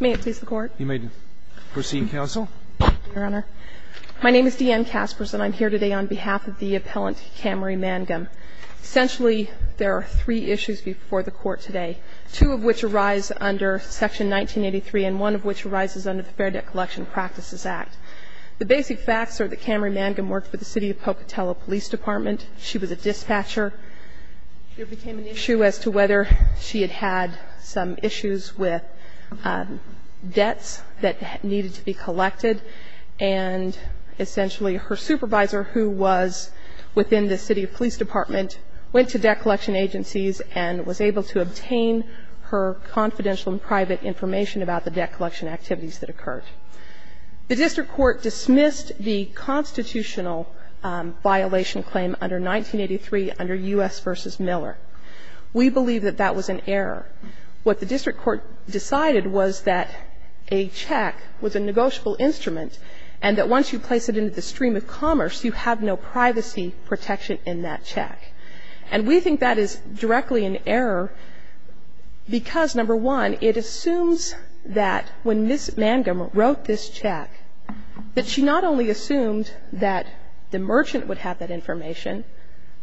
May it please the Court? You may proceed, Counsel. Your Honor, my name is Deanne Kaspers and I'm here today on behalf of the appellant Camarie Mangum. Essentially there are three issues before the Court today, two of which arise under Section 1983 and one of which arises under the Fair Debt Collection Practices Act. The basic facts are that Camarie Mangum worked for the City of Pocatello Police Department. She was a dispatcher. There became an issue as to whether she had some issues with debts that needed to be collected. And essentially her supervisor who was within the City Police Department went to debt collection agencies and was able to obtain her confidential and private information about the debt collection activities that occurred. The District Court dismissed the constitutional violation claim under 1983 under U.S. v. Miller. We believe that that was an error. What the District Court decided was that a check was a negotiable instrument and that once you place it into the stream of commerce, you have no privacy protection in that check. And we think that is directly an error because, number one, it assumes that when Ms. Mangum wrote this check, that she not only assumed that the merchant would have that information,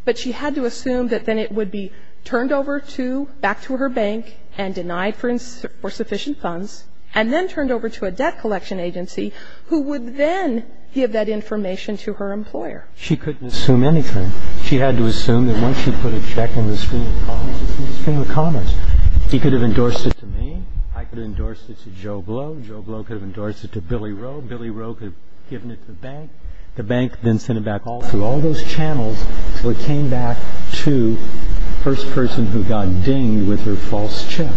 but she had to assume that then it would be turned over to, back to her bank and denied for sufficient funds and then turned over to a debt collection agency who would then give that information to her employer. She couldn't assume anything. She had to assume that once she put a check in the stream of commerce, he could have endorsed it to me, I could have endorsed it to Joe Blow, Joe Blow could have endorsed it to Billy Rowe, Billy Rowe could have given it to the bank, the bank then sent it back all through all those channels so it came back to the first person who got dinged with her false check.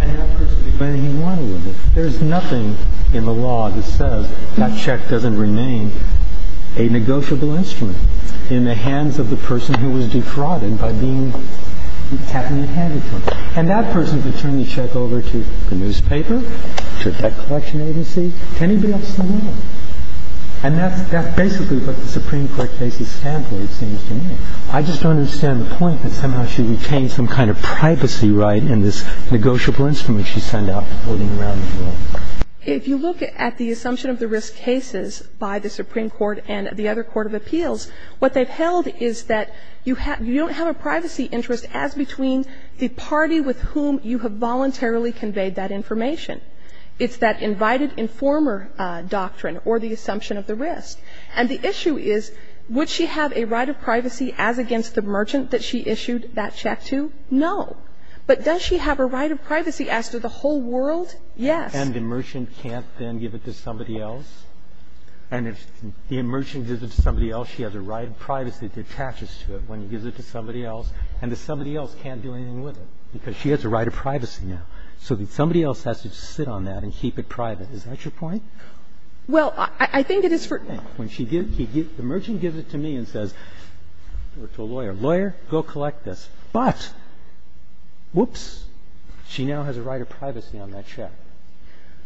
And that person could do whatever he wanted with it. There's nothing in the law that says that check doesn't remain a negotiable instrument in the hands of the person who was defrauded by being tapped in the hand with it. And that person could turn the check over to the newspaper, to a debt collection agency, to anybody else in the world. And that's basically what the Supreme Court cases stand for, it seems to me. I just don't understand the point that somehow she retained some kind of privacy right in this negotiable instrument she sent out floating around the world. If you look at the assumption of the risk cases by the Supreme Court and the other court of appeals, what they've held is that you don't have a privacy interest as between the party with whom you have voluntarily conveyed that information. It's that invited informer doctrine or the assumption of the risk. And the issue is, would she have a right of privacy as against the merchant that she issued that check to? No. But does she have a right of privacy as to the whole world? Yes. And the merchant can't then give it to somebody else? And if the merchant gives it to somebody else, she has a right of privacy that attaches to it when he gives it to somebody else, and the somebody else can't do anything with it, because she has a right of privacy now. So somebody else has to sit on that and keep it private. Is that your point? Well, I think it is for now. The merchant gives it to me and says, or to a lawyer, lawyer, go collect this. But, whoops, she now has a right of privacy on that check.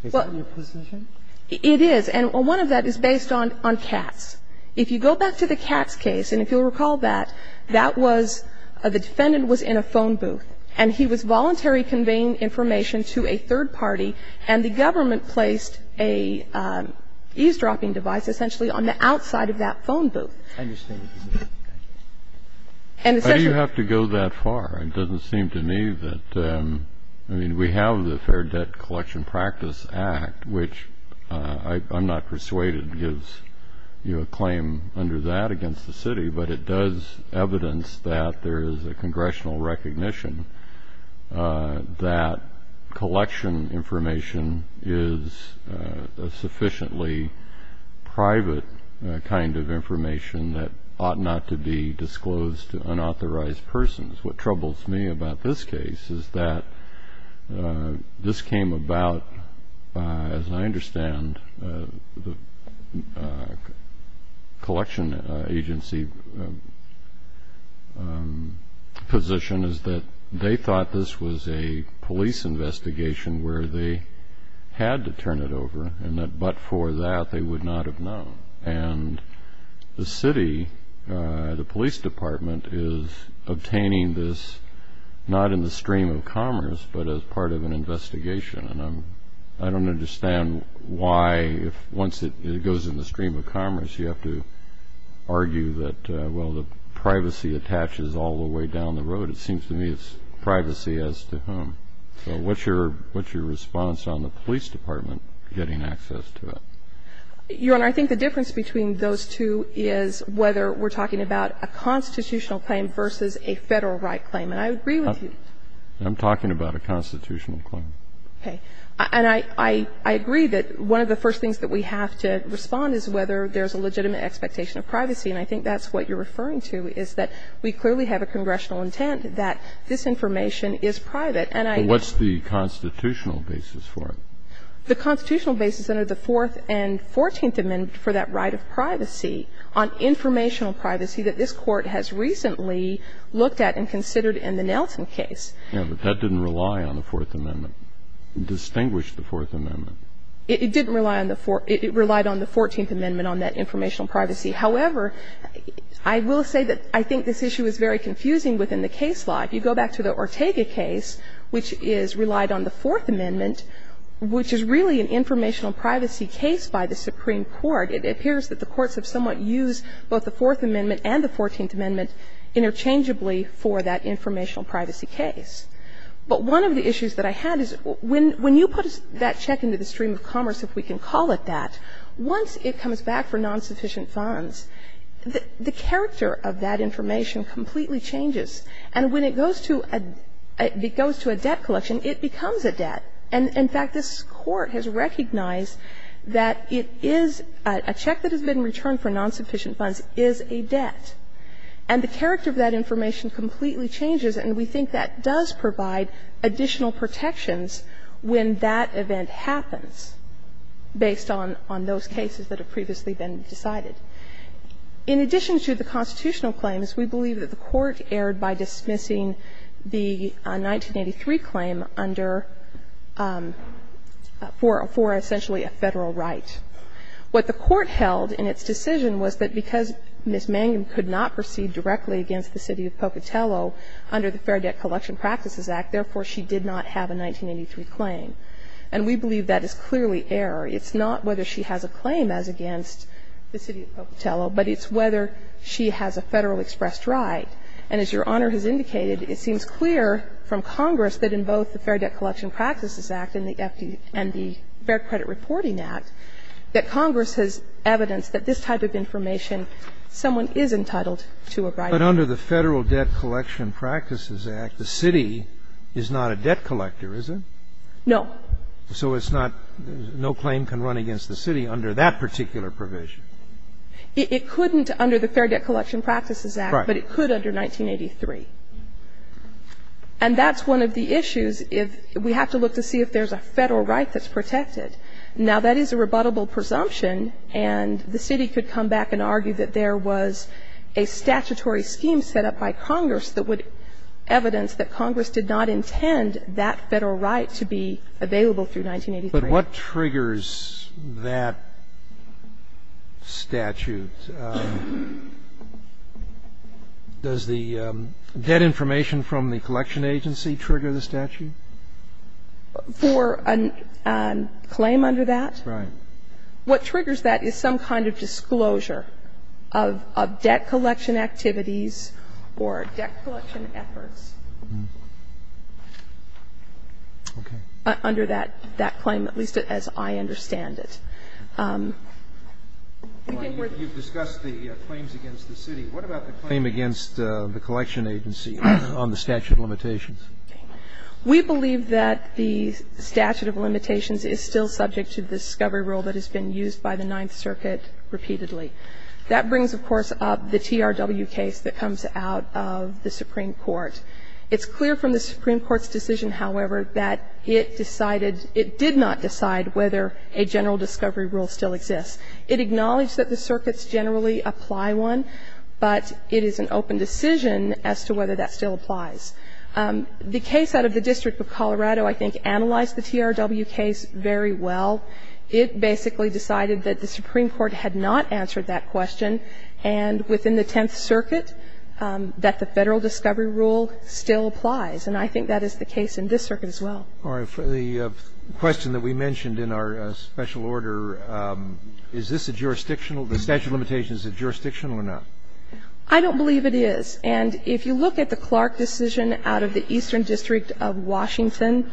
Is that your position? It is. And one of that is based on Katz. If you go back to the Katz case, and if you'll recall that, that was the defendant was in a phone booth, and he was voluntary conveying information to a third party, and the government placed an eavesdropping device essentially on the outside of that phone booth. I understand what you mean. Thank you. And essentially you have to go that far. It doesn't seem to me that we have the Fair Debt Collection Practice Act, which I'm not persuaded gives you a claim under that against the city, but it does evidence that there is a congressional recognition that collection information is a sufficiently private kind of information that ought not to be disclosed to unauthorized persons. What troubles me about this case is that this came about, as I understand, the collection agency position is that they thought this was a police investigation where they had to turn it over, and that but for that they would not have known. And the city, the police department, is obtaining this not in the stream of commerce, but as part of an investigation. And I don't understand why, once it goes in the stream of commerce, you have to argue that, well, the privacy attaches all the way down the road. It seems to me it's privacy as to whom. So what's your response on the police department getting access to it? You're right. I think the difference between those two is whether we're talking about a constitutional claim versus a Federal right claim. And I agree with you. I'm talking about a constitutional claim. Okay. And I agree that one of the first things that we have to respond is whether there's a legitimate expectation of privacy. And I think that's what you're referring to, is that we clearly have a congressional intent that this information is private. But what's the constitutional basis for it? The constitutional basis under the Fourth and Fourteenth Amendments for that right of privacy on informational privacy that this Court has recently looked at and considered in the Nelson case. Yeah, but that didn't rely on the Fourth Amendment. It distinguished the Fourth Amendment. It didn't rely on the Fourth. It relied on the Fourteenth Amendment on that informational privacy. However, I will say that I think this issue is very confusing within the case law. If you go back to the Ortega case, which is relied on the Fourth Amendment, which is really an informational privacy case by the Supreme Court, it appears that the courts have somewhat used both the Fourth Amendment and the Fourteenth Amendment interchangeably for that informational privacy case. But one of the issues that I had is when you put that check into the stream of commerce, if we can call it that, once it comes back for non-sufficient funds, the character of that information completely changes. And when it goes to a debt collection, it becomes a debt. And, in fact, this Court has recognized that it is a check that has been returned for non-sufficient funds is a debt. And the character of that information completely changes, and we think that does provide additional protections when that event happens based on those cases that have previously been decided. In addition to the constitutional claims, we believe that the Court erred by dismissing the 1983 claim under for essentially a Federal right. What the Court held in its decision was that because Ms. Mangum could not proceed directly against the city of Pocatello under the Fair Debt Collection Practices Act, therefore, she did not have a 1983 claim. And we believe that is clearly error. It's not whether she has a claim as against the city of Pocatello, but it's whether she has a Federal expressed right. And as Your Honor has indicated, it seems clear from Congress that in both the Fair Debt Collection Practices Act and the FDR and the Fair Credit Reporting Act that Congress has evidenced that this type of information, someone is entitled to a right. But under the Federal Debt Collection Practices Act, the city is not a debt collector, is it? No. So it's not no claim can run against the city under that particular provision? It couldn't under the Fair Debt Collection Practices Act, but it could under 1983. And that's one of the issues. We have to look to see if there's a Federal right that's protected. Now, that is a rebuttable presumption, and the city could come back and argue that there was a statutory scheme set up by Congress that would evidence that Congress did not intend that Federal right to be available through 1983. But what triggers that statute? Does the debt information from the collection agency trigger the statute? For a claim under that? Right. What triggers that is some kind of disclosure of debt collection activities or debt collection efforts under that claim, at least as I understand it. You've discussed the claims against the city. What about the claim against the collection agency on the statute of limitations? We believe that the statute of limitations is still subject to the discovery rule that has been used by the Ninth Circuit repeatedly. That brings, of course, up the TRW case that comes out of the Supreme Court. It's clear from the Supreme Court's decision, however, that it decided, it did not decide whether a general discovery rule still exists. It acknowledged that the circuits generally apply one, but it is an open decision as to whether that still applies. The case out of the District of Colorado, I think, analyzed the TRW case very well. It basically decided that the Supreme Court had not answered that question, and within the Tenth Circuit, that the Federal discovery rule still applies. And I think that is the case in this circuit as well. All right. For the question that we mentioned in our special order, is this a jurisdictional the statute of limitations a jurisdictional or not? I don't believe it is. And if you look at the Clark decision out of the Eastern District of Washington,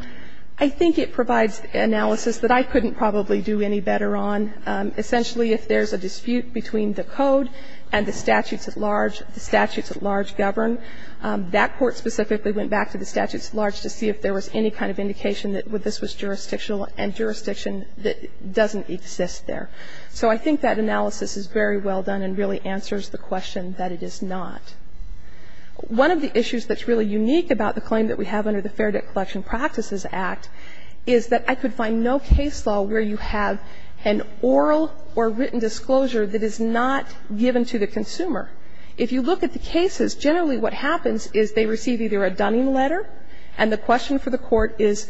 I think it provides analysis that I couldn't probably do any better on. Essentially, if there's a dispute between the code and the statutes at large, the statutes at large govern. That court specifically went back to the statutes at large to see if there was any kind of indication that this was jurisdictional and jurisdiction that doesn't exist there. So I think that analysis is very well done and really answers the question that it is not. One of the issues that's really unique about the claim that we have under the Fair Debt Collection Practices Act is that I could find no case law where you have an oral or written disclosure that is not given to the consumer. If you look at the cases, generally what happens is they receive either a Dunning letter, and the question for the court is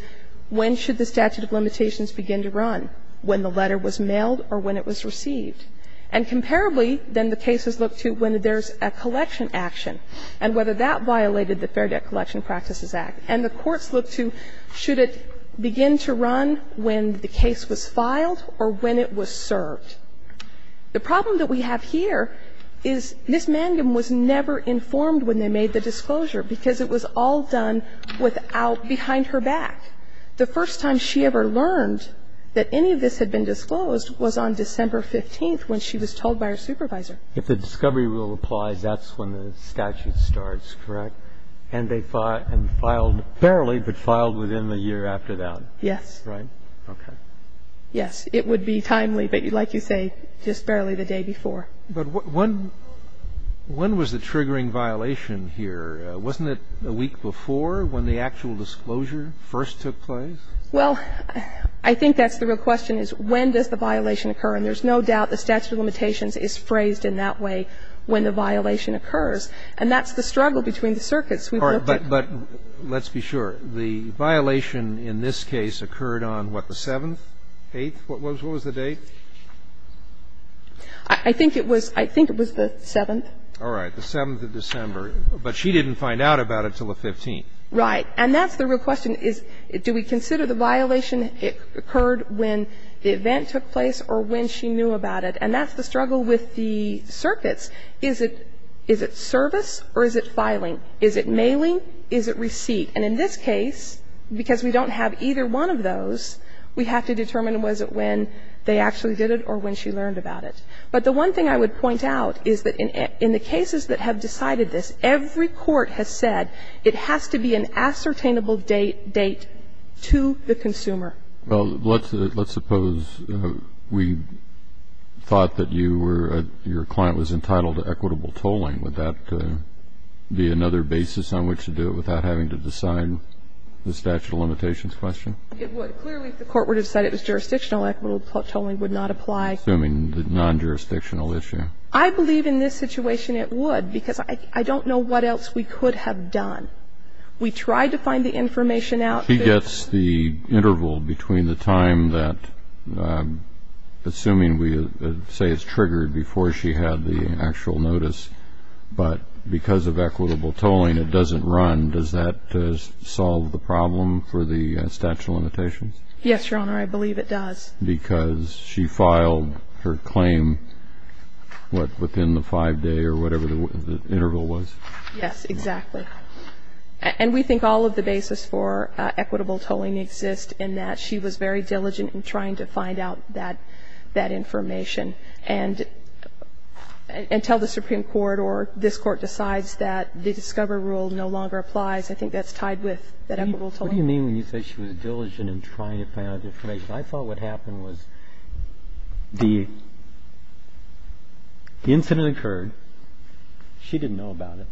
when should the statute of limitations begin to run, when the letter was mailed or when it was received. And comparably, then the cases look to when there's a collection action and whether or not that violated the Fair Debt Collection Practices Act. And the courts look to should it begin to run when the case was filed or when it was served. The problem that we have here is Ms. Mangum was never informed when they made the disclosure because it was all done without behind her back. The first time she ever learned that any of this had been disclosed was on December 15th when she was told by her supervisor. If the discovery rule applies, that's when the statute starts, correct? And they filed, barely, but filed within the year after that. Yes. Right? Okay. Yes. It would be timely, but like you say, just barely the day before. But when was the triggering violation here? Wasn't it a week before when the actual disclosure first took place? Well, I think that's the real question is when does the violation occur? And there's no doubt the statute of limitations is phrased in that way when the violation occurs, and that's the struggle between the circuits. But let's be sure. The violation in this case occurred on, what, the 7th, 8th? What was the date? I think it was the 7th. All right. The 7th of December. But she didn't find out about it until the 15th. Right. And that's the real question is do we consider the violation occurred when the event took place or when she knew about it? And that's the struggle with the circuits. Is it service or is it filing? Is it mailing? Is it receipt? And in this case, because we don't have either one of those, we have to determine was it when they actually did it or when she learned about it. But the one thing I would point out is that in the cases that have decided this, every court has said it has to be an ascertainable date to the consumer. Well, let's suppose we thought that your client was entitled to equitable tolling. Would that be another basis on which to do it without having to decide the statute of limitations question? It would. Clearly, if the court were to decide it was jurisdictional, equitable tolling would not apply. Assuming the non-jurisdictional issue. I believe in this situation it would because I don't know what else we could have done. We tried to find the information out. She gets the interval between the time that, assuming we say it's triggered before she had the actual notice, but because of equitable tolling it doesn't run, does that solve the problem for the statute of limitations? Yes, Your Honor, I believe it does. Because she filed her claim, what, within the five day or whatever the interval was? Yes, exactly. And we think all of the basis for equitable tolling exists in that she was very diligent in trying to find out that information. And until the Supreme Court or this Court decides that the discover rule no longer applies, I think that's tied with that equitable tolling. What do you mean when you say she was diligent in trying to find out the information? I thought what happened was the incident occurred. She didn't know about it.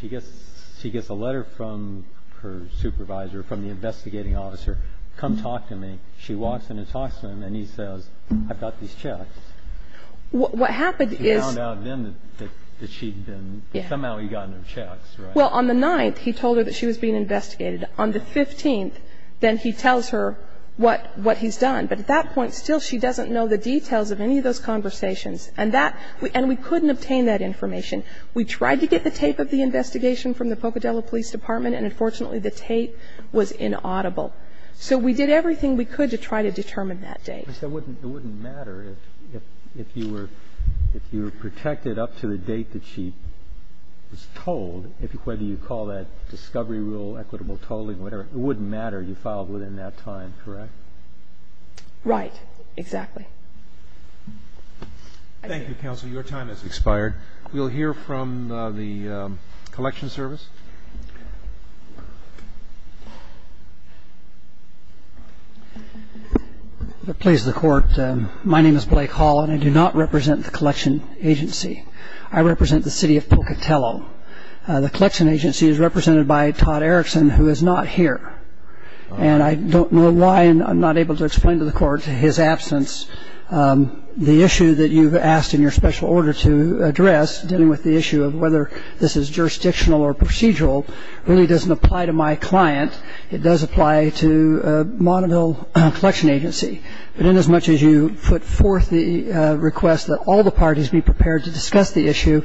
She gets a letter from her supervisor, from the investigating officer, come talk to me. She walks in and talks to him, and he says, I've got these checks. What happened is he found out then that she'd been, somehow he got no checks, right? Well, on the 9th, he told her that she was being investigated. On the 15th, then he tells her what he's done. But at that point, still, she doesn't know the details of any of those conversations. And that, and we couldn't obtain that information. We tried to get the tape of the investigation from the Pocadillo Police Department, and unfortunately, the tape was inaudible. So we did everything we could to try to determine that date. But it wouldn't matter if you were protected up to the date that she was told, whether you call that discovery rule, equitable tolling, whatever. It wouldn't matter. You filed within that time, correct? Right. Exactly. Thank you, counsel. Your time has expired. We'll hear from the collection service. If it pleases the Court, my name is Blake Hall, and I do not represent the collection agency. I represent the city of Pocadillo. The collection agency is represented by Todd Erickson, who is not here. And I don't know why, and I'm not able to explain to the Court his absence. The issue that you've asked in your special order to address, dealing with the issue of whether this is jurisdictional or procedural, really doesn't apply to my client. It does apply to Monaville Collection Agency. But inasmuch as you put forth the request that all the parties be prepared to discuss the issue,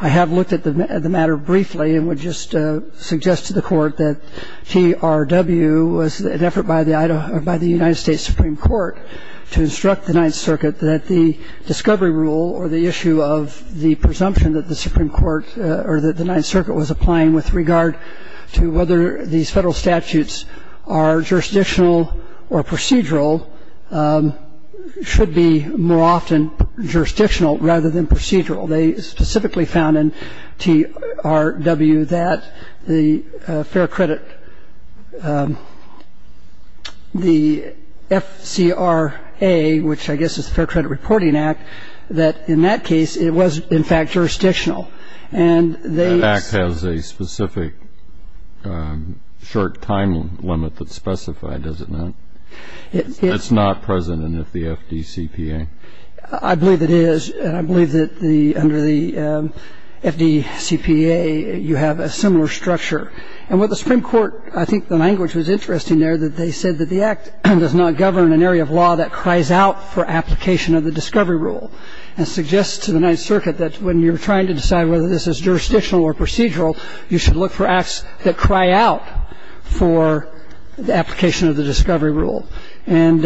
I have looked at the matter briefly and would just suggest to the Court that TRW was an effort by the United States Supreme Court to instruct the Ninth Circuit that the discovery rule or the issue of the presumption that the Supreme Court or that the Ninth Circuit was applying with regard to whether these federal statutes are jurisdictional or procedural should be more often jurisdictional rather than procedural. They specifically found in TRW that the fair credit, the FCRA, which I guess is the Fair Credit Reporting Act, that in that case it was, in fact, jurisdictional. And they ---- That act has a specific short time limit that's specified, does it not? It's not present in the FDCPA. I believe it is, and I believe that under the FDCPA you have a similar structure. And what the Supreme Court, I think the language was interesting there, that they said that the act does not govern an area of law that cries out for application of the discovery rule and suggests to the Ninth Circuit that when you're trying to decide whether this is jurisdictional or procedural, you should look for acts that cry out for the application of the discovery rule. And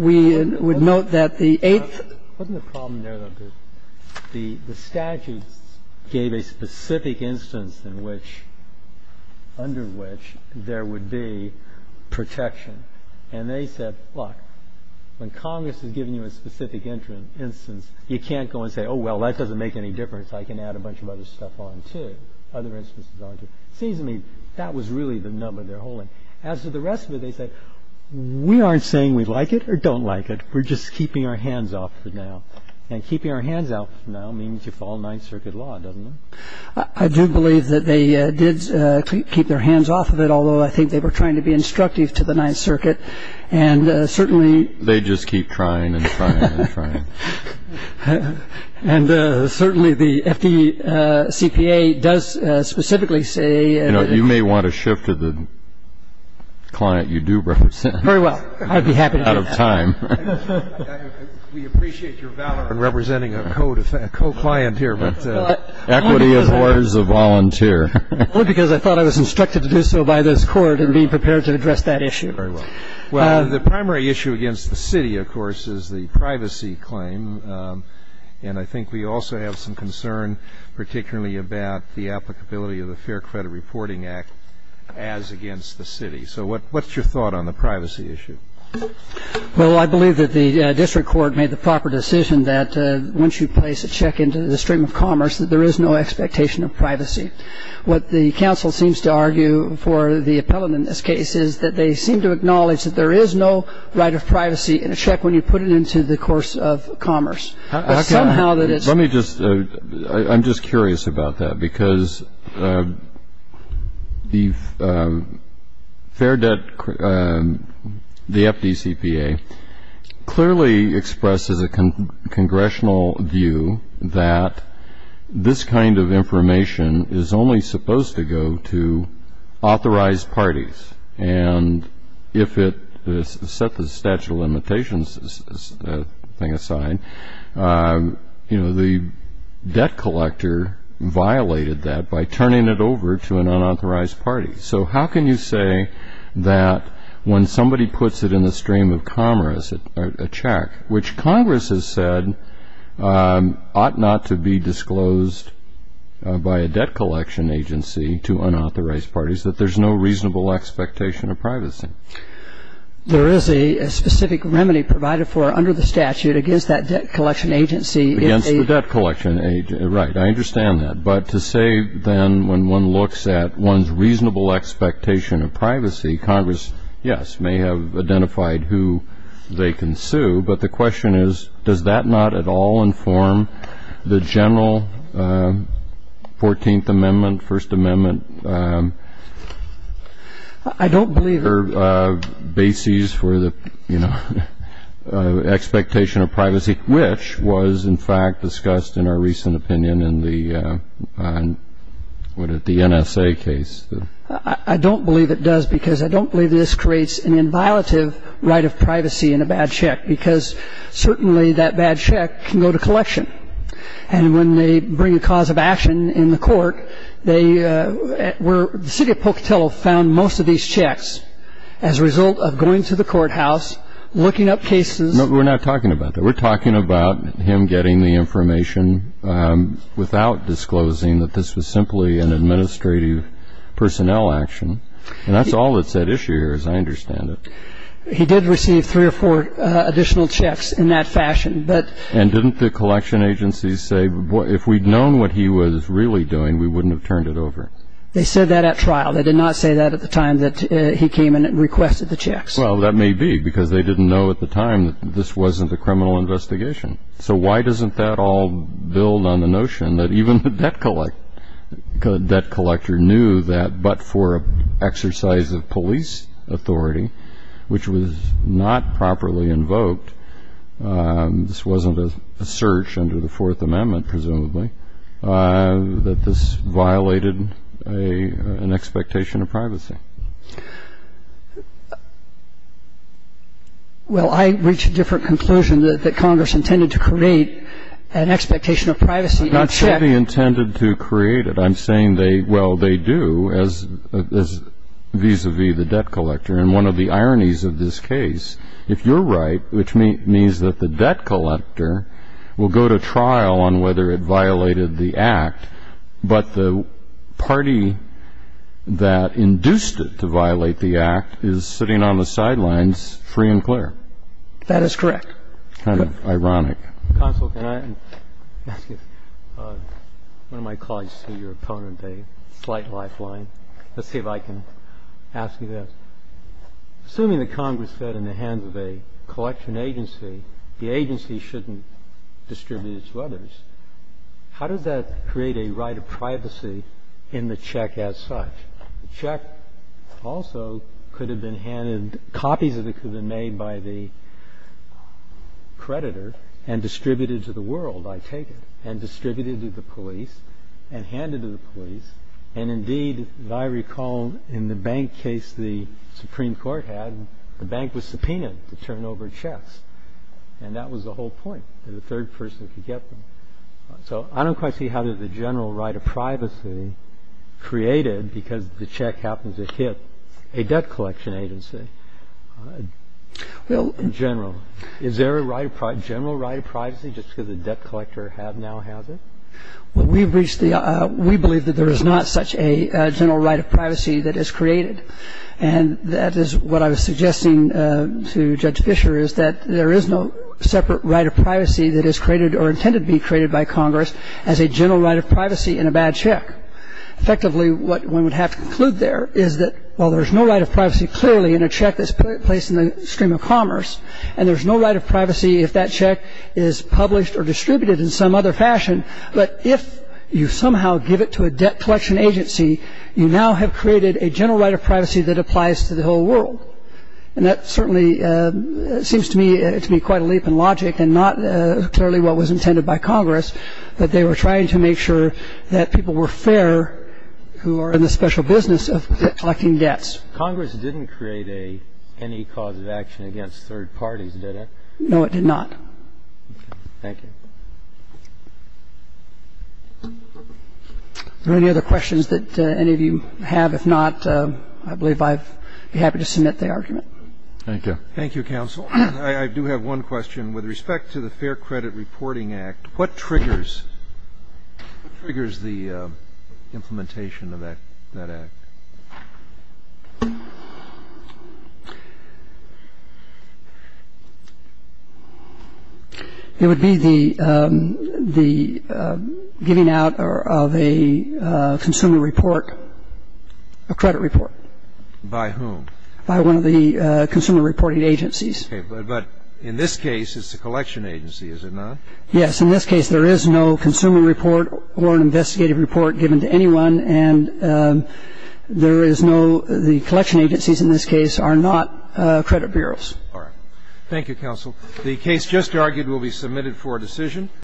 we would note that the eighth ---- Wasn't the problem there, though, that the statutes gave a specific instance in which, under which, there would be protection. And they said, look, when Congress has given you a specific instance, you can't go and say, oh, well, that doesn't make any difference. I can add a bunch of other stuff on to, other instances on to. It seems to me that was really the number they're holding. As to the rest of it, they said, we aren't saying we like it or don't like it. We're just keeping our hands off it now. And keeping our hands off it now means you follow Ninth Circuit law, doesn't it? I do believe that they did keep their hands off of it, although I think they were trying to be instructive to the Ninth Circuit. And certainly ---- They just keep trying and trying and trying. And certainly the FDCPA does specifically say ---- You know, you may want to shift to the client you do represent. Very well. I'd be happy to do that. Out of time. We appreciate your valor in representing a co-client here. Equity of orders of volunteer. Only because I thought I was instructed to do so by this Court in being prepared to address that issue. Very well. Well, the primary issue against the city, of course, is the privacy claim. And I think we also have some concern particularly about the applicability of the Fair Credit Reporting Act as against the city. So what's your thought on the privacy issue? Well, I believe that the district court made the proper decision that once you place a check into the stream of commerce, that there is no expectation of privacy. What the council seems to argue for the appellant in this case is that they seem to acknowledge that there is no right of privacy in a check when you put it into the course of commerce. Somehow that it's ---- Let me just ---- I'm just curious about that. Because the Fair Debt ---- the FDCPA clearly expresses a congressional view that this kind of information is only supposed to go to authorized parties. And if it ---- set the statute of limitations thing aside, you know, the debt collector violated that by turning it over to an unauthorized party. So how can you say that when somebody puts it in the stream of commerce, a check, which Congress has said ought not to be disclosed by a debt collection agency to unauthorized parties, that there's no reasonable expectation of privacy? There is a specific remedy provided for under the statute against that debt collection agency. Against the debt collection agency. Right. I understand that. But to say then when one looks at one's reasonable expectation of privacy, Congress, yes, may have identified who they can sue. But the question is, does that not at all inform the general 14th Amendment, First Amendment ---- I don't believe it. ---- bases for the, you know, expectation of privacy, which was in fact discussed in our recent opinion in the N.S.A. case. I don't believe it does because I don't believe this creates an inviolative right of privacy in a bad check because certainly that bad check can go to collection. And when they bring a cause of action in the court, they were ---- the city of Pocatello found most of these checks as a result of going to the courthouse, looking up cases. No, we're not talking about that. We're talking about him getting the information without disclosing that this was simply an administrative personnel action. And that's all that's at issue here, as I understand it. He did receive three or four additional checks in that fashion, but ---- And didn't the collection agencies say, boy, if we'd known what he was really doing, we wouldn't have turned it over? They said that at trial. They did not say that at the time that he came in and requested the checks. Well, that may be because they didn't know at the time that this wasn't a criminal investigation. So why doesn't that all build on the notion that even the debt collector knew that, but for an exercise of police authority, which was not properly invoked, this wasn't a search under the Fourth Amendment, presumably, that this violated an expectation of privacy? Well, I reached a different conclusion, that Congress intended to create an expectation of privacy. Not simply intended to create it. I'm saying they ---- well, they do as vis-a-vis the debt collector. And one of the ironies of this case, if you're right, which means that the debt collector will go to trial on whether it violated the Act, but the party that induced it to violate the Act is sitting on the sidelines free and clear. That is correct. Kind of ironic. Counsel, can I ask you, one of my colleagues is your opponent, a slight lifeline. Let's see if I can ask you this. Assuming that Congress fed in the hands of a collection agency, the agency shouldn't distribute it to others. How does that create a right of privacy in the check as such? The check also could have been handed, copies of it could have been made by the creditor and distributed to the world, I take it, and distributed to the police and handed to the police. And indeed, as I recall, in the bank case the Supreme Court had, the bank was subpoenaed to turn over checks. And that was the whole point, that a third person could get them. So I don't quite see how there's a general right of privacy created because the check happens to hit a debt collection agency. Well, in general. Is there a general right of privacy just because the debt collector now has it? Well, we've reached the — we believe that there is not such a general right of privacy that is created. And that is what I was suggesting to Judge Fischer, is that there is no separate right of privacy that is created or intended to be created by Congress as a general right of privacy in a bad check. Effectively, what one would have to conclude there is that, while there's no right of privacy clearly in a check that's placed in the stream of commerce, and there's no right of privacy if that check is published or distributed in some other fashion, but if you somehow give it to a debt collection agency, you now have created a general right of privacy that applies to the whole world. And that certainly seems to me to be quite a leap in logic and not clearly what was intended by Congress, that they were trying to make sure that people were fair who are in the special business of collecting debts. Congress didn't create any cause of action against third parties, did it? No, it did not. Thank you. Are there any other questions that any of you have? If not, I believe I'd be happy to submit the argument. Thank you. Thank you, counsel. I do have one question. With respect to the Fair Credit Reporting Act, what triggers the implementation of that act? It would be the giving out of a consumer report, a credit report. By whom? By one of the consumer reporting agencies. Okay. But in this case, it's a collection agency, is it not? Yes. In this case, there is no consumer report or an investigative report given to anyone, and there is no the collection agencies in this case are not credit bureaus. All right. Thank you, counsel. The case just argued will be submitted for decision.